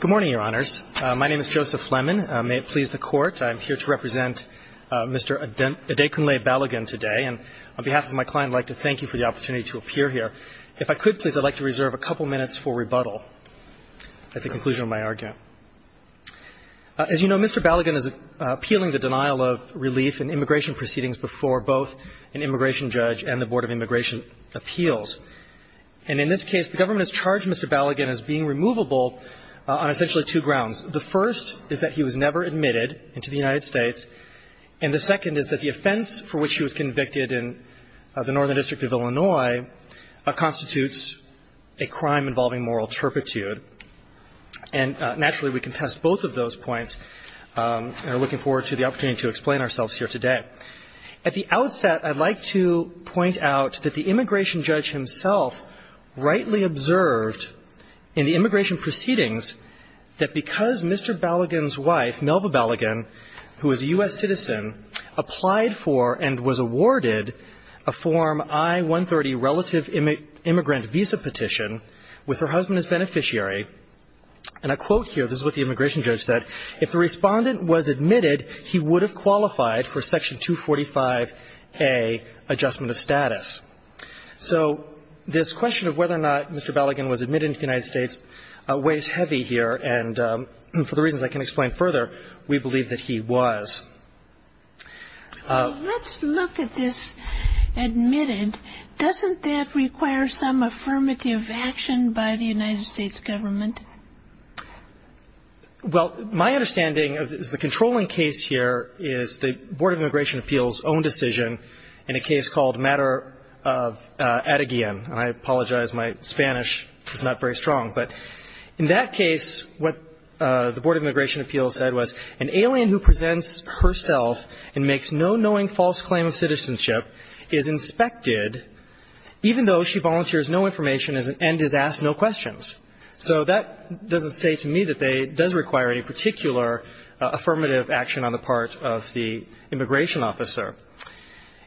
Good morning, Your Honors. My name is Joseph Fleming. May it please the Court, I am here to represent Mr. Adekunle Balogun today. And on behalf of my client, I'd like to thank you for the opportunity to appear here. If I could, please, I'd like to reserve a couple minutes for rebuttal at the conclusion of my argument. As you know, Mr. Balogun is appealing the denial of relief in immigration proceedings before both an immigration judge and the Board of Immigration Appeals. And in this case, the government has charged Mr. Balogun as being removable on essentially two grounds. The first is that he was never admitted into the United States. And the second is that the offense for which he was convicted in the Northern District of Illinois constitutes a crime involving moral turpitude. And naturally, we contest both of those points and are looking forward to the opportunity to explain ourselves here today. At the outset, I'd like to point out that the immigration judge himself rightly observed in the immigration proceedings that because Mr. Balogun's wife, Melva Balogun, who is a U.S. citizen, applied for and was awarded a Form I-130 relative immigrant visa petition with her husband as beneficiary, and I quote here, this is what the immigration judge said, if the respondent was admitted, he would have qualified for Section 245A adjustment of status. So this question of whether or not Mr. Balogun was admitted into the United States weighs heavy here, and for the reasons I can't explain further, we believe that he was. Let's look at this admitted. Doesn't that require some affirmative action by the United States government? Well, my understanding of the controlling case here is the Board of Immigration Appeals' own decision in a case called Matter of Atagian. And I apologize, my Spanish is not very strong. But in that case, what the Board of Immigration Appeals said was an alien who presents herself and makes no knowing false claim of citizenship is inspected, even though she volunteers no information and is asked no questions. So that doesn't say to me that it does require any particular affirmative action on the part of the immigration officer.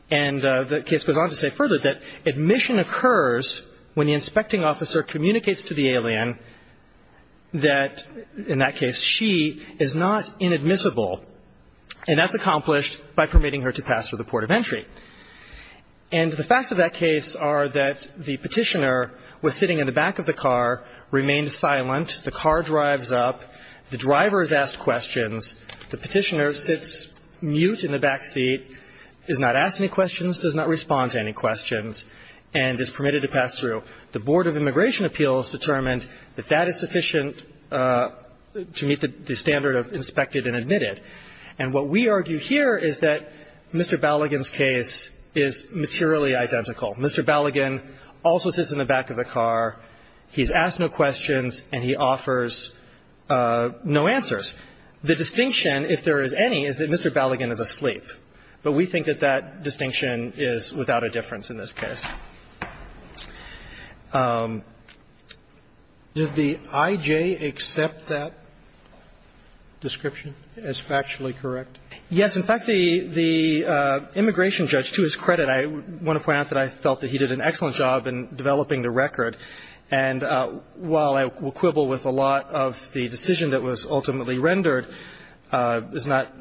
And the case goes on to say further that admission occurs when the inspecting officer communicates to the alien that in that case she is not inadmissible, and that's accomplished by permitting her to pass through the port of entry. And the facts of that case are that the Petitioner was sitting in the back of the car, remained silent. The car drives up. The driver is asked questions. The Petitioner sits mute in the back seat, is not asked any questions, does not respond to any questions, and is permitted to pass through. The Board of Immigration Appeals determined that that is sufficient to meet the standard of inspected and admitted. And what we argue here is that Mr. Balligan's case is materially identical. Mr. Balligan also sits in the back of the car. He's asked no questions, and he offers no answers. The distinction, if there is any, is that Mr. Balligan is asleep. But we think that that distinction is without a difference in this case. Did the I.J. accept that description as factually correct? Yes. In fact, the immigration judge, to his credit, I want to point out that I felt that he did an excellent job in developing the record. And while I will quibble with a lot of the decision that was ultimately rendered is not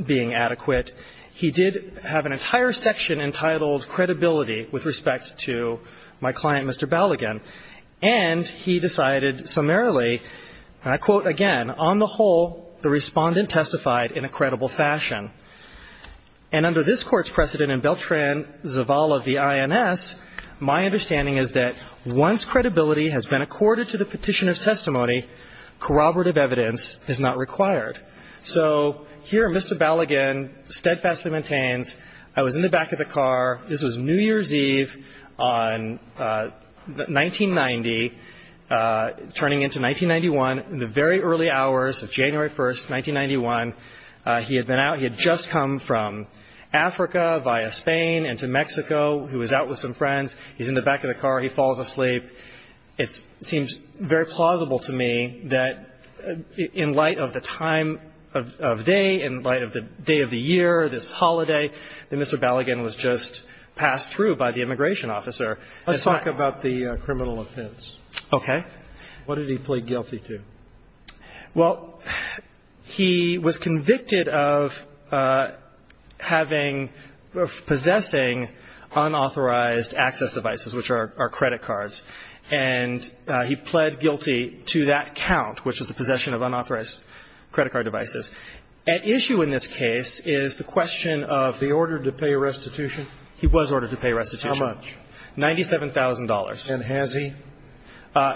being adequate, he did have an entire section entitled, Credibility, with respect to my client, Mr. Balligan. And he decided summarily, and I quote again, On the whole, the Respondent testified in a credible fashion. And under this Court's precedent in Beltran-Zavala v. INS, my understanding is that once credibility has been accorded to the Petitioner's testimony, corroborative evidence is not required. So here Mr. Balligan steadfastly maintains, I was in the back of the car. This was New Year's Eve on 1990, turning into 1991. In the very early hours of January 1st, 1991, he had been out. He had just come from Africa via Spain into Mexico. He was out with some friends. He's in the back of the car. He falls asleep. It seems very plausible to me that in light of the time of day, in light of the day of the year, this holiday, that Mr. Balligan was just passed through by the immigration officer. Let's talk about the criminal offense. Okay. What did he plead guilty to? Well, he was convicted of having, possessing unauthorized access devices, which are credit cards. And he pled guilty to that count, which is the possession of unauthorized credit card devices. At issue in this case is the question of the order to pay restitution. He was ordered to pay restitution. How much? $97,000. And has he?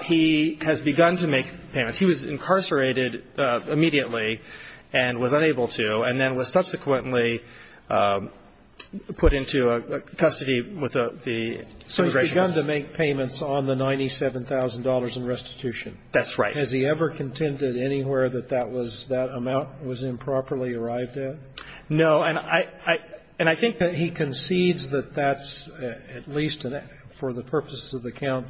He has begun to make payments. He was incarcerated immediately and was unable to, and then was subsequently put into custody with the immigration officer. So he's begun to make payments on the $97,000 in restitution. That's right. Has he ever contended anywhere that that amount was improperly arrived at? No. And I think that he concedes that that's, at least for the purposes of the count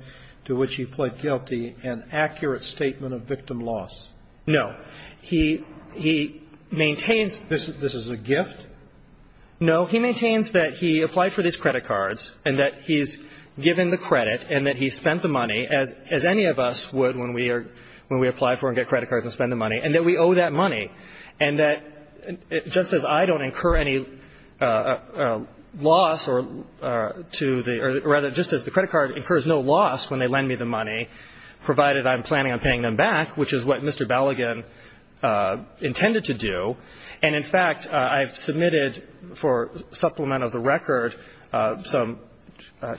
to which he pled guilty, an accurate statement of victim loss. No. But he maintains. This is a gift? No. He maintains that he applied for these credit cards and that he's given the credit and that he spent the money, as any of us would when we are, when we apply for and get credit cards and spend the money, and that we owe that money and that just as I don't incur any loss or to the, or rather just as the credit card incurs no loss when they lend me the money, provided I'm planning on paying them back, which is what Mr. Balligan intended to do. And, in fact, I've submitted for supplement of the record some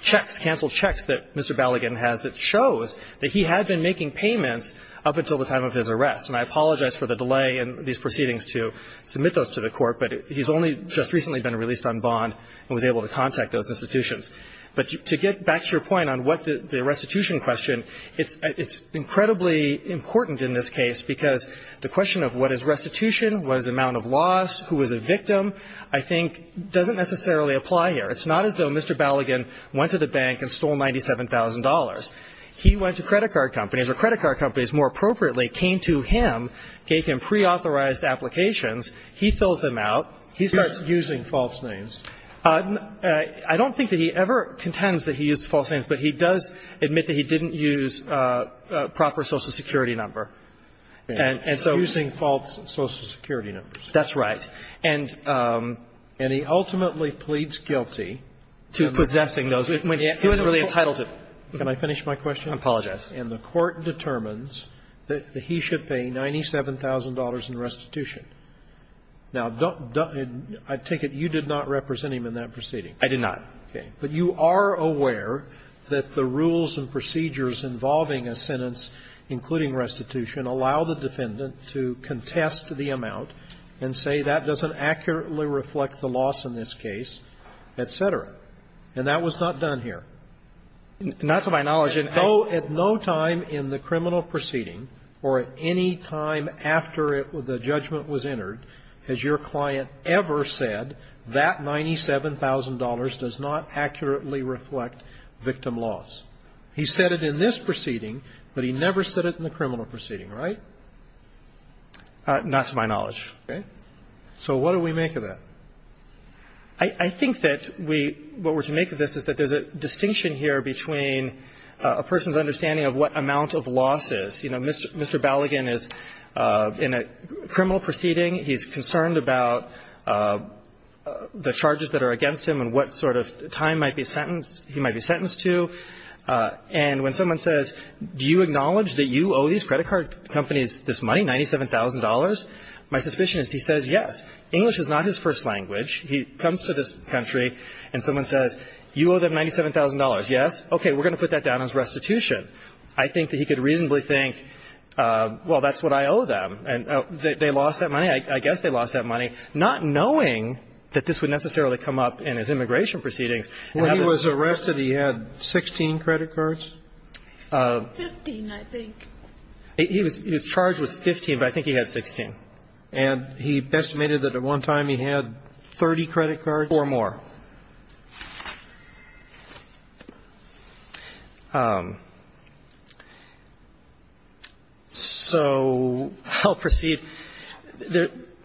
checks, canceled checks that Mr. Balligan has that shows that he had been making payments up until the time of his arrest. And I apologize for the delay in these proceedings to submit those to the Court, but he's only just recently been released on bond and was able to contact those institutions. But to get back to your point on what the restitution question, it's incredibly important in this case, because the question of what is restitution, what is the amount of loss, who is a victim, I think doesn't necessarily apply here. It's not as though Mr. Balligan went to the bank and stole $97,000. He went to credit card companies, or credit card companies more appropriately came to him, gave him preauthorized applications. He fills them out. He starts using false names. I don't think that he ever contends that he used false names, but he does admit that he didn't use a proper Social Security number. And so he's using false Social Security numbers. That's right. And he ultimately pleads guilty to possessing those. He wasn't really entitled to. Can I finish my question? I apologize. And the Court determines that he should pay $97,000 in restitution. Now, I take it you did not represent him in that proceeding. I did not. Okay. But you are aware that the rules and procedures involving a sentence, including restitution, allow the defendant to contest the amount and say that doesn't accurately reflect the loss in this case, et cetera. And that was not done here. Not to my knowledge. Judge, at no time in the criminal proceeding or at any time after the judgment was entered has your client ever said that $97,000 does not accurately reflect victim loss. He said it in this proceeding, but he never said it in the criminal proceeding, right? Not to my knowledge. Okay. So what do we make of that? I think that we what we're to make of this is that there's a distinction here between a person's understanding of what amount of loss is. You know, Mr. Balligan is in a criminal proceeding. He's concerned about the charges that are against him and what sort of time might be sentenced he might be sentenced to. And when someone says, do you acknowledge that you owe these credit card companies this money, $97,000, my suspicion is he says yes. English is not his first language. He comes to this country and someone says, you owe them $97,000, yes? Okay. We're going to put that down as restitution. I think that he could reasonably think, well, that's what I owe them. And they lost that money. I guess they lost that money, not knowing that this would necessarily come up in his immigration proceedings. And that was the reason. When he was arrested, he had 16 credit cards? 15, I think. His charge was 15, but I think he had 16. And he estimated that at one time he had 30 credit cards? Four more. So I'll proceed.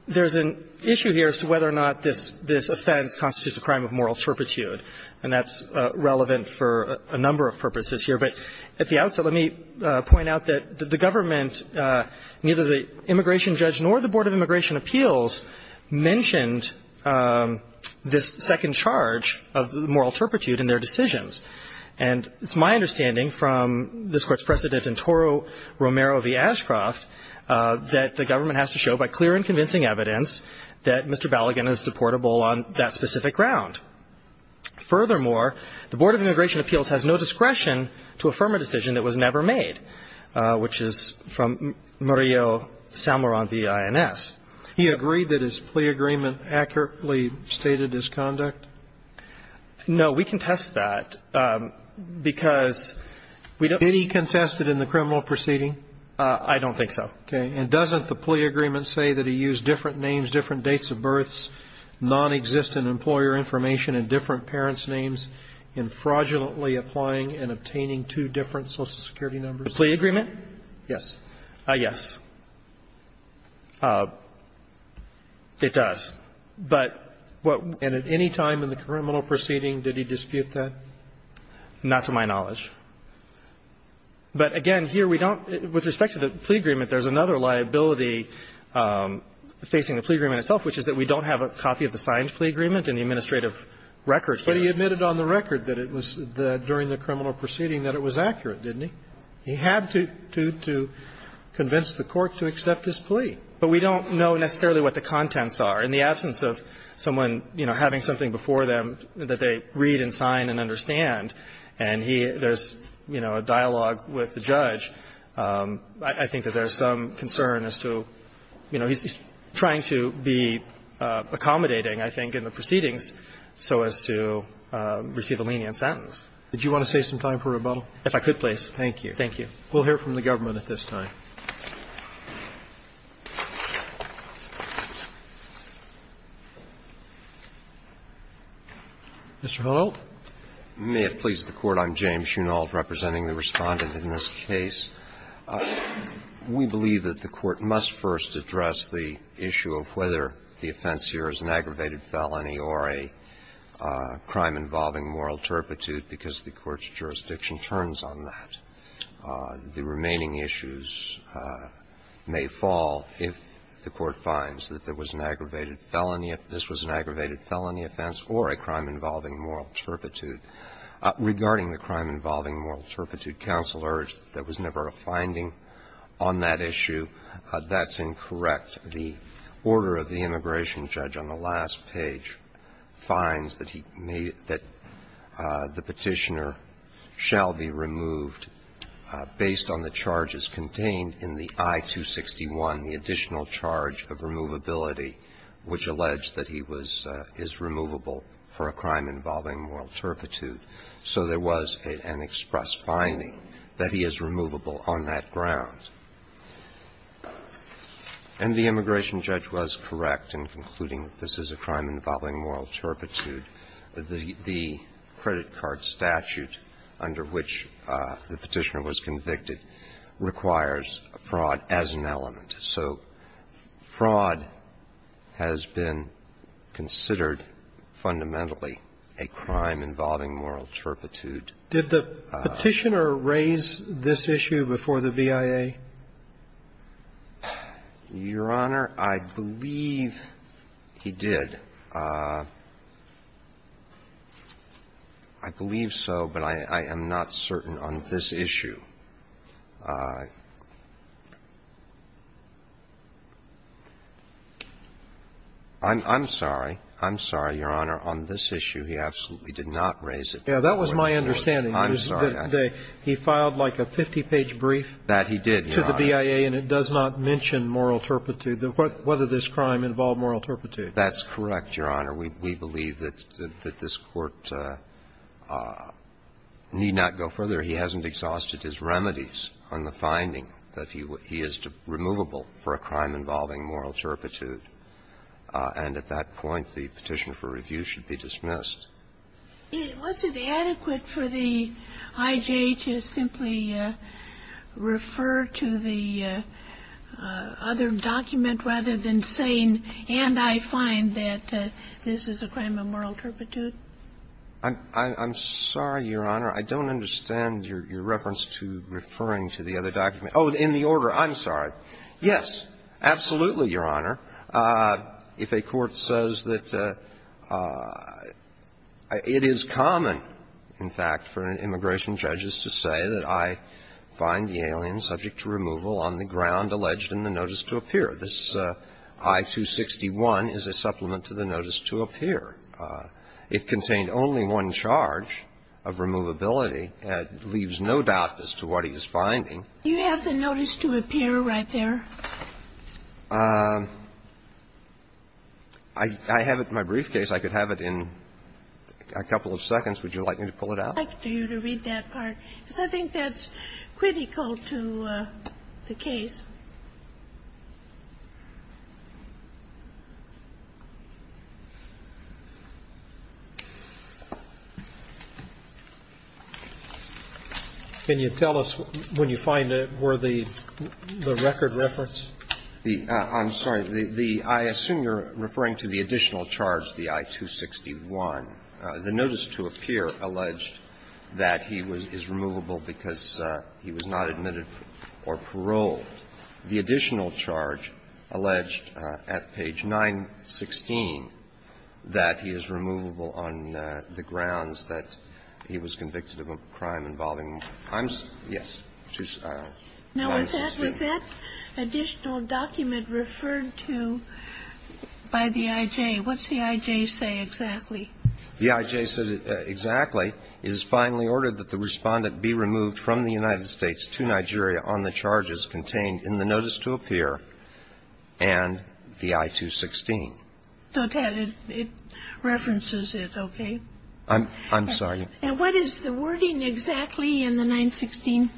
There's an issue here as to whether or not this offense constitutes a crime of moral turpitude, and that's relevant for a number of purposes here. But at the outset, let me point out that the government, neither the immigration appeals, nor the immigration appeals are in charge of moral turpitude in their decisions. And it's my understanding from this Court's precedent in Toro Romero v. Ashcroft that the government has to show by clear and convincing evidence that Mr. Balligan is deportable on that specific ground. Furthermore, the Board of Immigration Appeals has no discretion to affirm a decision that was never made, which is from Murillo-Salmoron v. INS. He agreed that his plea agreement accurately stated his conduct? No. We contest that because we don't. Did he contest it in the criminal proceeding? I don't think so. Okay. And doesn't the plea agreement say that he used different names, different dates of births, nonexistent employer information and different parents' names in fraudulently applying and obtaining two different Social Security numbers? The plea agreement? Yes. Yes. It does. But what – and at any time in the criminal proceeding, did he dispute that? Not to my knowledge. But again, here we don't – with respect to the plea agreement, there's another liability facing the plea agreement itself, which is that we don't have a copy of the signed plea agreement in the administrative records. But he admitted on the record that it was the – during the criminal proceeding that it was accurate, didn't he? He had to convince the court to accept his plea. But we don't know necessarily what the contents are. In the absence of someone, you know, having something before them that they read and sign and understand, and he – there's, you know, a dialogue with the judge, I think that there's some concern as to, you know, he's trying to be accommodating, I think, in the proceedings so as to receive a lenient sentence. Did you want to save some time for rebuttal? If I could, please. Thank you. Thank you. We'll hear from the government at this time. Mr. Hunolt. May it please the Court. I'm James Hunolt, representing the Respondent in this case. We believe that the Court must first address the issue of whether the offense here is an aggravated felony or a crime involving moral turpitude, because the Court's opinion is that the remaining issues may fall if the Court finds that there was an aggravated felony, if this was an aggravated felony offense, or a crime involving moral turpitude. Regarding the crime involving moral turpitude, counsel urged that there was never a finding on that issue. That's incorrect. The order of the immigration judge on the last page finds that he may – that the petitioner shall be removed based on the charges contained in the I-261, the additional charge of removability, which alleged that he was – is removable for a crime involving moral turpitude. So there was an express finding that he is removable on that ground. And the immigration judge was correct in concluding that this is a crime involving moral turpitude. The credit card statute under which the petitioner was convicted requires fraud as an element. So fraud has been considered fundamentally a crime involving moral turpitude. Did the petitioner raise this issue before the VIA? Your Honor, I believe he did. I believe so, but I am not certain on this issue. I'm sorry. I'm sorry, Your Honor. On this issue, he absolutely did not raise it before the VIA. That was my understanding. I'm sorry. He filed like a 50-page brief. That he did, Your Honor. To the VIA, and it does not mention moral turpitude, whether this crime involved moral turpitude. That's correct, Your Honor. We believe that this Court need not go further. He hasn't exhausted his remedies on the finding that he is removable for a crime involving moral turpitude. And at that point, the petitioner for review should be dismissed. Was it adequate for the IJ to simply refer to the other document rather than saying, and I find that this is a crime of moral turpitude? I'm sorry, Your Honor. I don't understand your reference to referring to the other document. Oh, in the order. I'm sorry. Yes, absolutely, Your Honor. If a court says that it is common, in fact, for immigration judges to say that I find the alien subject to removal on the ground alleged in the notice to appear, this I-261 is a supplement to the notice to appear. It contained only one charge of removability. It leaves no doubt as to what he is finding. You have the notice to appear right there. I have it in my briefcase. I could have it in a couple of seconds. Would you like me to pull it out? I'd like you to read that part, because I think that's critical to the case. Can you tell us when you find it, were the record reference? I'm sorry. I assume you're referring to the additional charge, the I-261. The notice to appear alleged that he is removable because he was not admitted or paroled. The additional charge alleged at page 916 that he is removable on the grounds that he was convicted of a crime involving crimes. Yes. Now, was that additional document referred to by the I.J.? What's the I.J. say exactly? The I.J. said exactly, So, Ted, it references it, okay? I'm sorry. And what is the wording exactly in the 916?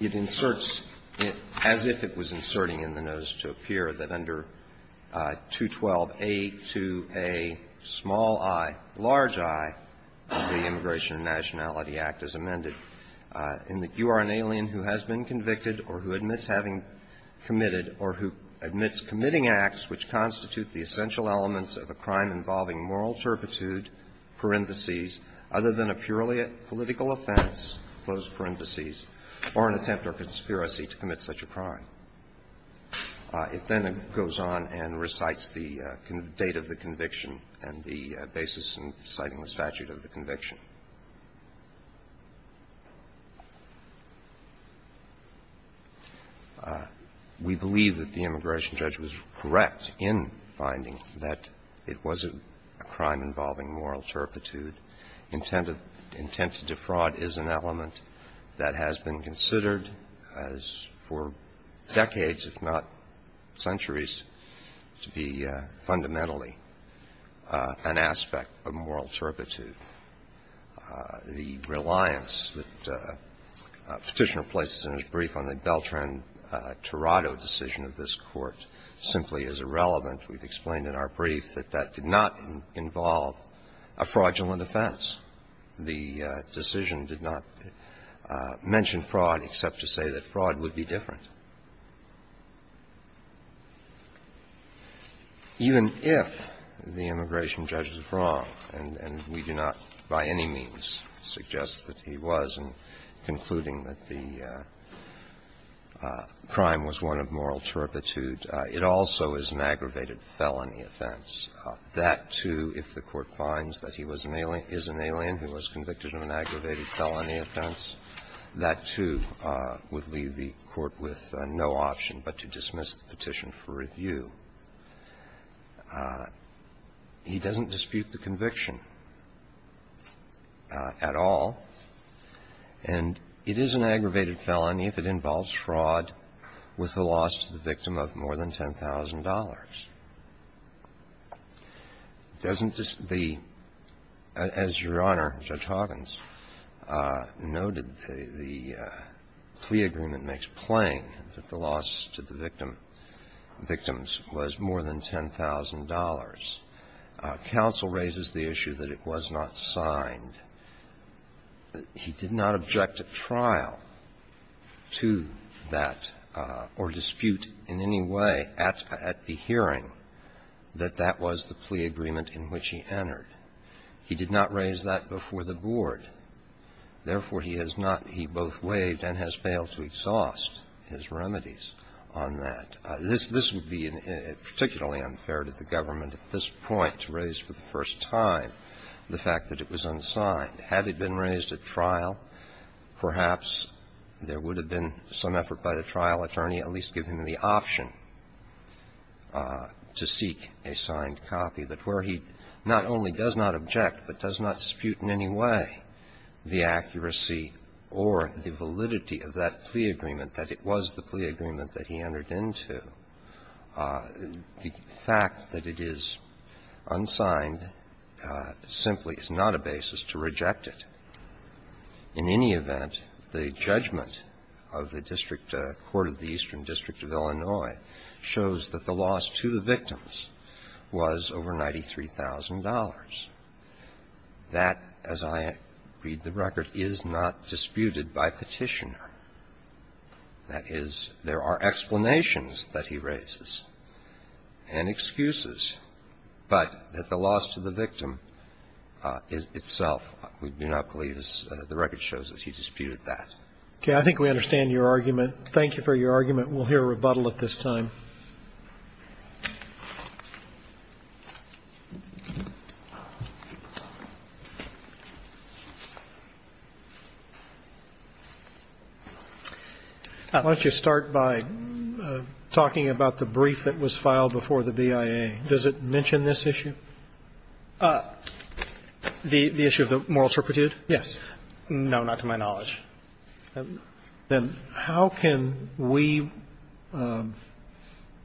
It inserts it as if it was inserting in the notice to appear. It's as if it was inserting in the notice to appear that under 212A to a small I, large I, of the Immigration and Nationality Act as amended, in that you are an alien who has been convicted or who admits having committed or who admits committing acts which constitute the essential elements of a crime involving moral turpitude, parentheses, other than a purely political offense, closed parentheses, or an attempt or conspiracy to commit such a crime. It then goes on and recites the date of the conviction and the basis in citing the statute of the conviction. We believe that the immigration judge was correct in finding that it was a crime involving moral turpitude. Intent to defraud is an element that has been considered as for decades, if not centuries, to be fundamentally an aspect of moral turpitude. The reliance that Petitioner places in his brief on the Beltran-Torado decision of this Court simply is irrelevant. We've explained in our brief that that did not involve a fraudulent offense. The decision did not mention fraud except to say that fraud would be different. Even if the immigration judge is wrong, and we do not by any means suggest that he was in concluding that the crime was one of moral turpitude, it also is an aggravated felony offense. That, too, if the Court finds that he was an alien who was convicted of an aggravated felony offense, that, too, would leave the Court with no option but to dismiss the petition for review. He doesn't dispute the conviction at all. And it is an aggravated felony if it involves fraud with a loss to the victim of more than $10,000. Doesn't the — as Your Honor, Judge Hoggins noted, the plea agreement makes plain that the loss to the victim — victims was more than $10,000. Counsel raises the issue that it was not signed. He did not object at trial to that or dispute in any way at the hearing that that was the plea agreement in which he entered. He did not raise that before the board. Therefore, he has not — he both raised for the first time the fact that it was unsigned. Had it been raised at trial, perhaps there would have been some effort by the trial attorney at least to give him the option to seek a signed copy. But where he not only does not object, but does not dispute in any way the accuracy or the validity of that plea agreement that it was the plea agreement that he entered into, the fact that it is unsigned simply is not a basis to reject it. In any event, the judgment of the district court of the Eastern District of Illinois shows that the loss to the victims was over $93,000. That, as I read the record, is not disputed by Petitioner. That is, there are explanations that he raises and excuses, but that the loss to the victim itself, we do not believe, as the record shows, that he disputed that. Okay. I think we understand your argument. Thank you for your argument. We'll hear a rebuttal at this time. Why don't you start by talking about the brief that was filed before the BIA. Does it mention this issue? The issue of the moral turpitude? Yes. No, not to my knowledge. Then how can we, as a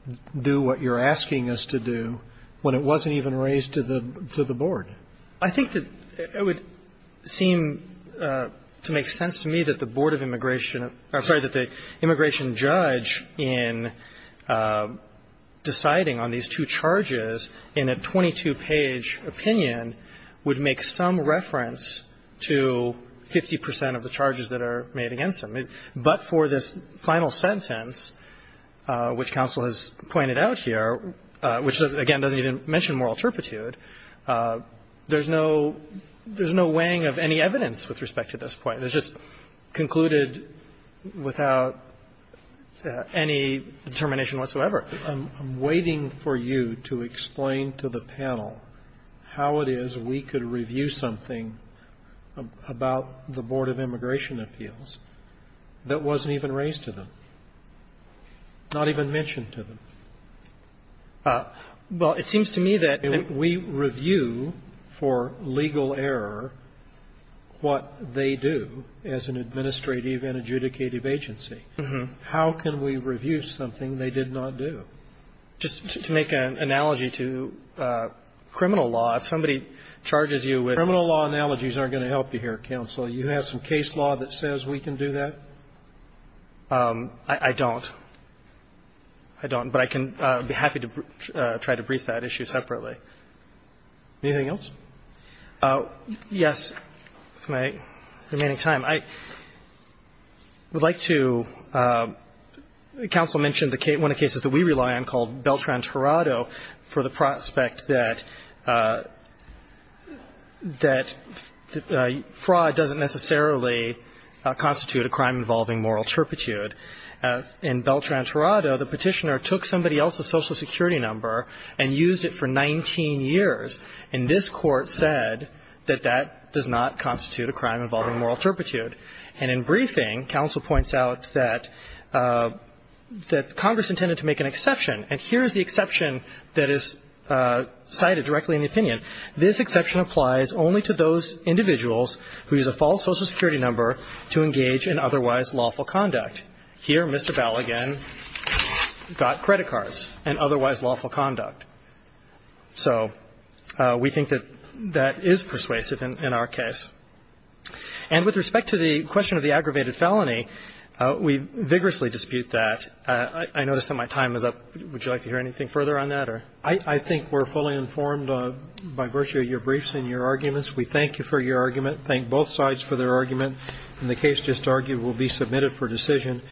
district court of the Eastern District of Illinois, do what you're asking us to do when it wasn't even raised to the board? I think that it would seem to make sense to me that the board of immigration or, sorry, that the immigration judge in deciding on these two charges in a 22-page opinion would make some reference to 50 percent of the charges that are made against him. But for this final sentence, which counsel has pointed out here, which again doesn't even mention moral turpitude, there's no weighing of any evidence with respect to this point. It's just concluded without any determination whatsoever. I'm waiting for you to explain to the panel how it is we could review something about the board of immigration appeals that wasn't even raised to them, not even mentioned to them. Well, it seems to me that if we review for legal error what they do as an administrative and adjudicative agency, how can we review something they did not do? Just to make an analogy to criminal law, if somebody charges you with a criminal law, criminal law analogies aren't going to help you here, counsel. You have some case law that says we can do that? I don't. I don't. But I can be happy to try to brief that issue separately. Anything else? Yes. With my remaining time, I would like to – counsel mentioned one of the cases that we rely on called Beltran-Torado for the prospect that fraud doesn't necessarily constitute a crime involving moral turpitude. In Beltran-Torado, the Petitioner took somebody else's Social Security number and used it for 19 years, and this Court said that that does not constitute a crime involving moral turpitude. And in briefing, counsel points out that Congress intended to make an exception, and here is the exception that is cited directly in the opinion. This exception applies only to those individuals who use a false Social Security number to engage in otherwise lawful conduct. Here, Mr. Balligan got credit cards and otherwise lawful conduct. So we think that that is persuasive in our case. And with respect to the question of the aggravated felony, we vigorously dispute that. I notice that my time is up. Would you like to hear anything further on that? I think we're fully informed by virtue of your briefs and your arguments. We thank you for your argument, thank both sides for their argument, and the case just argued will be submitted for decision.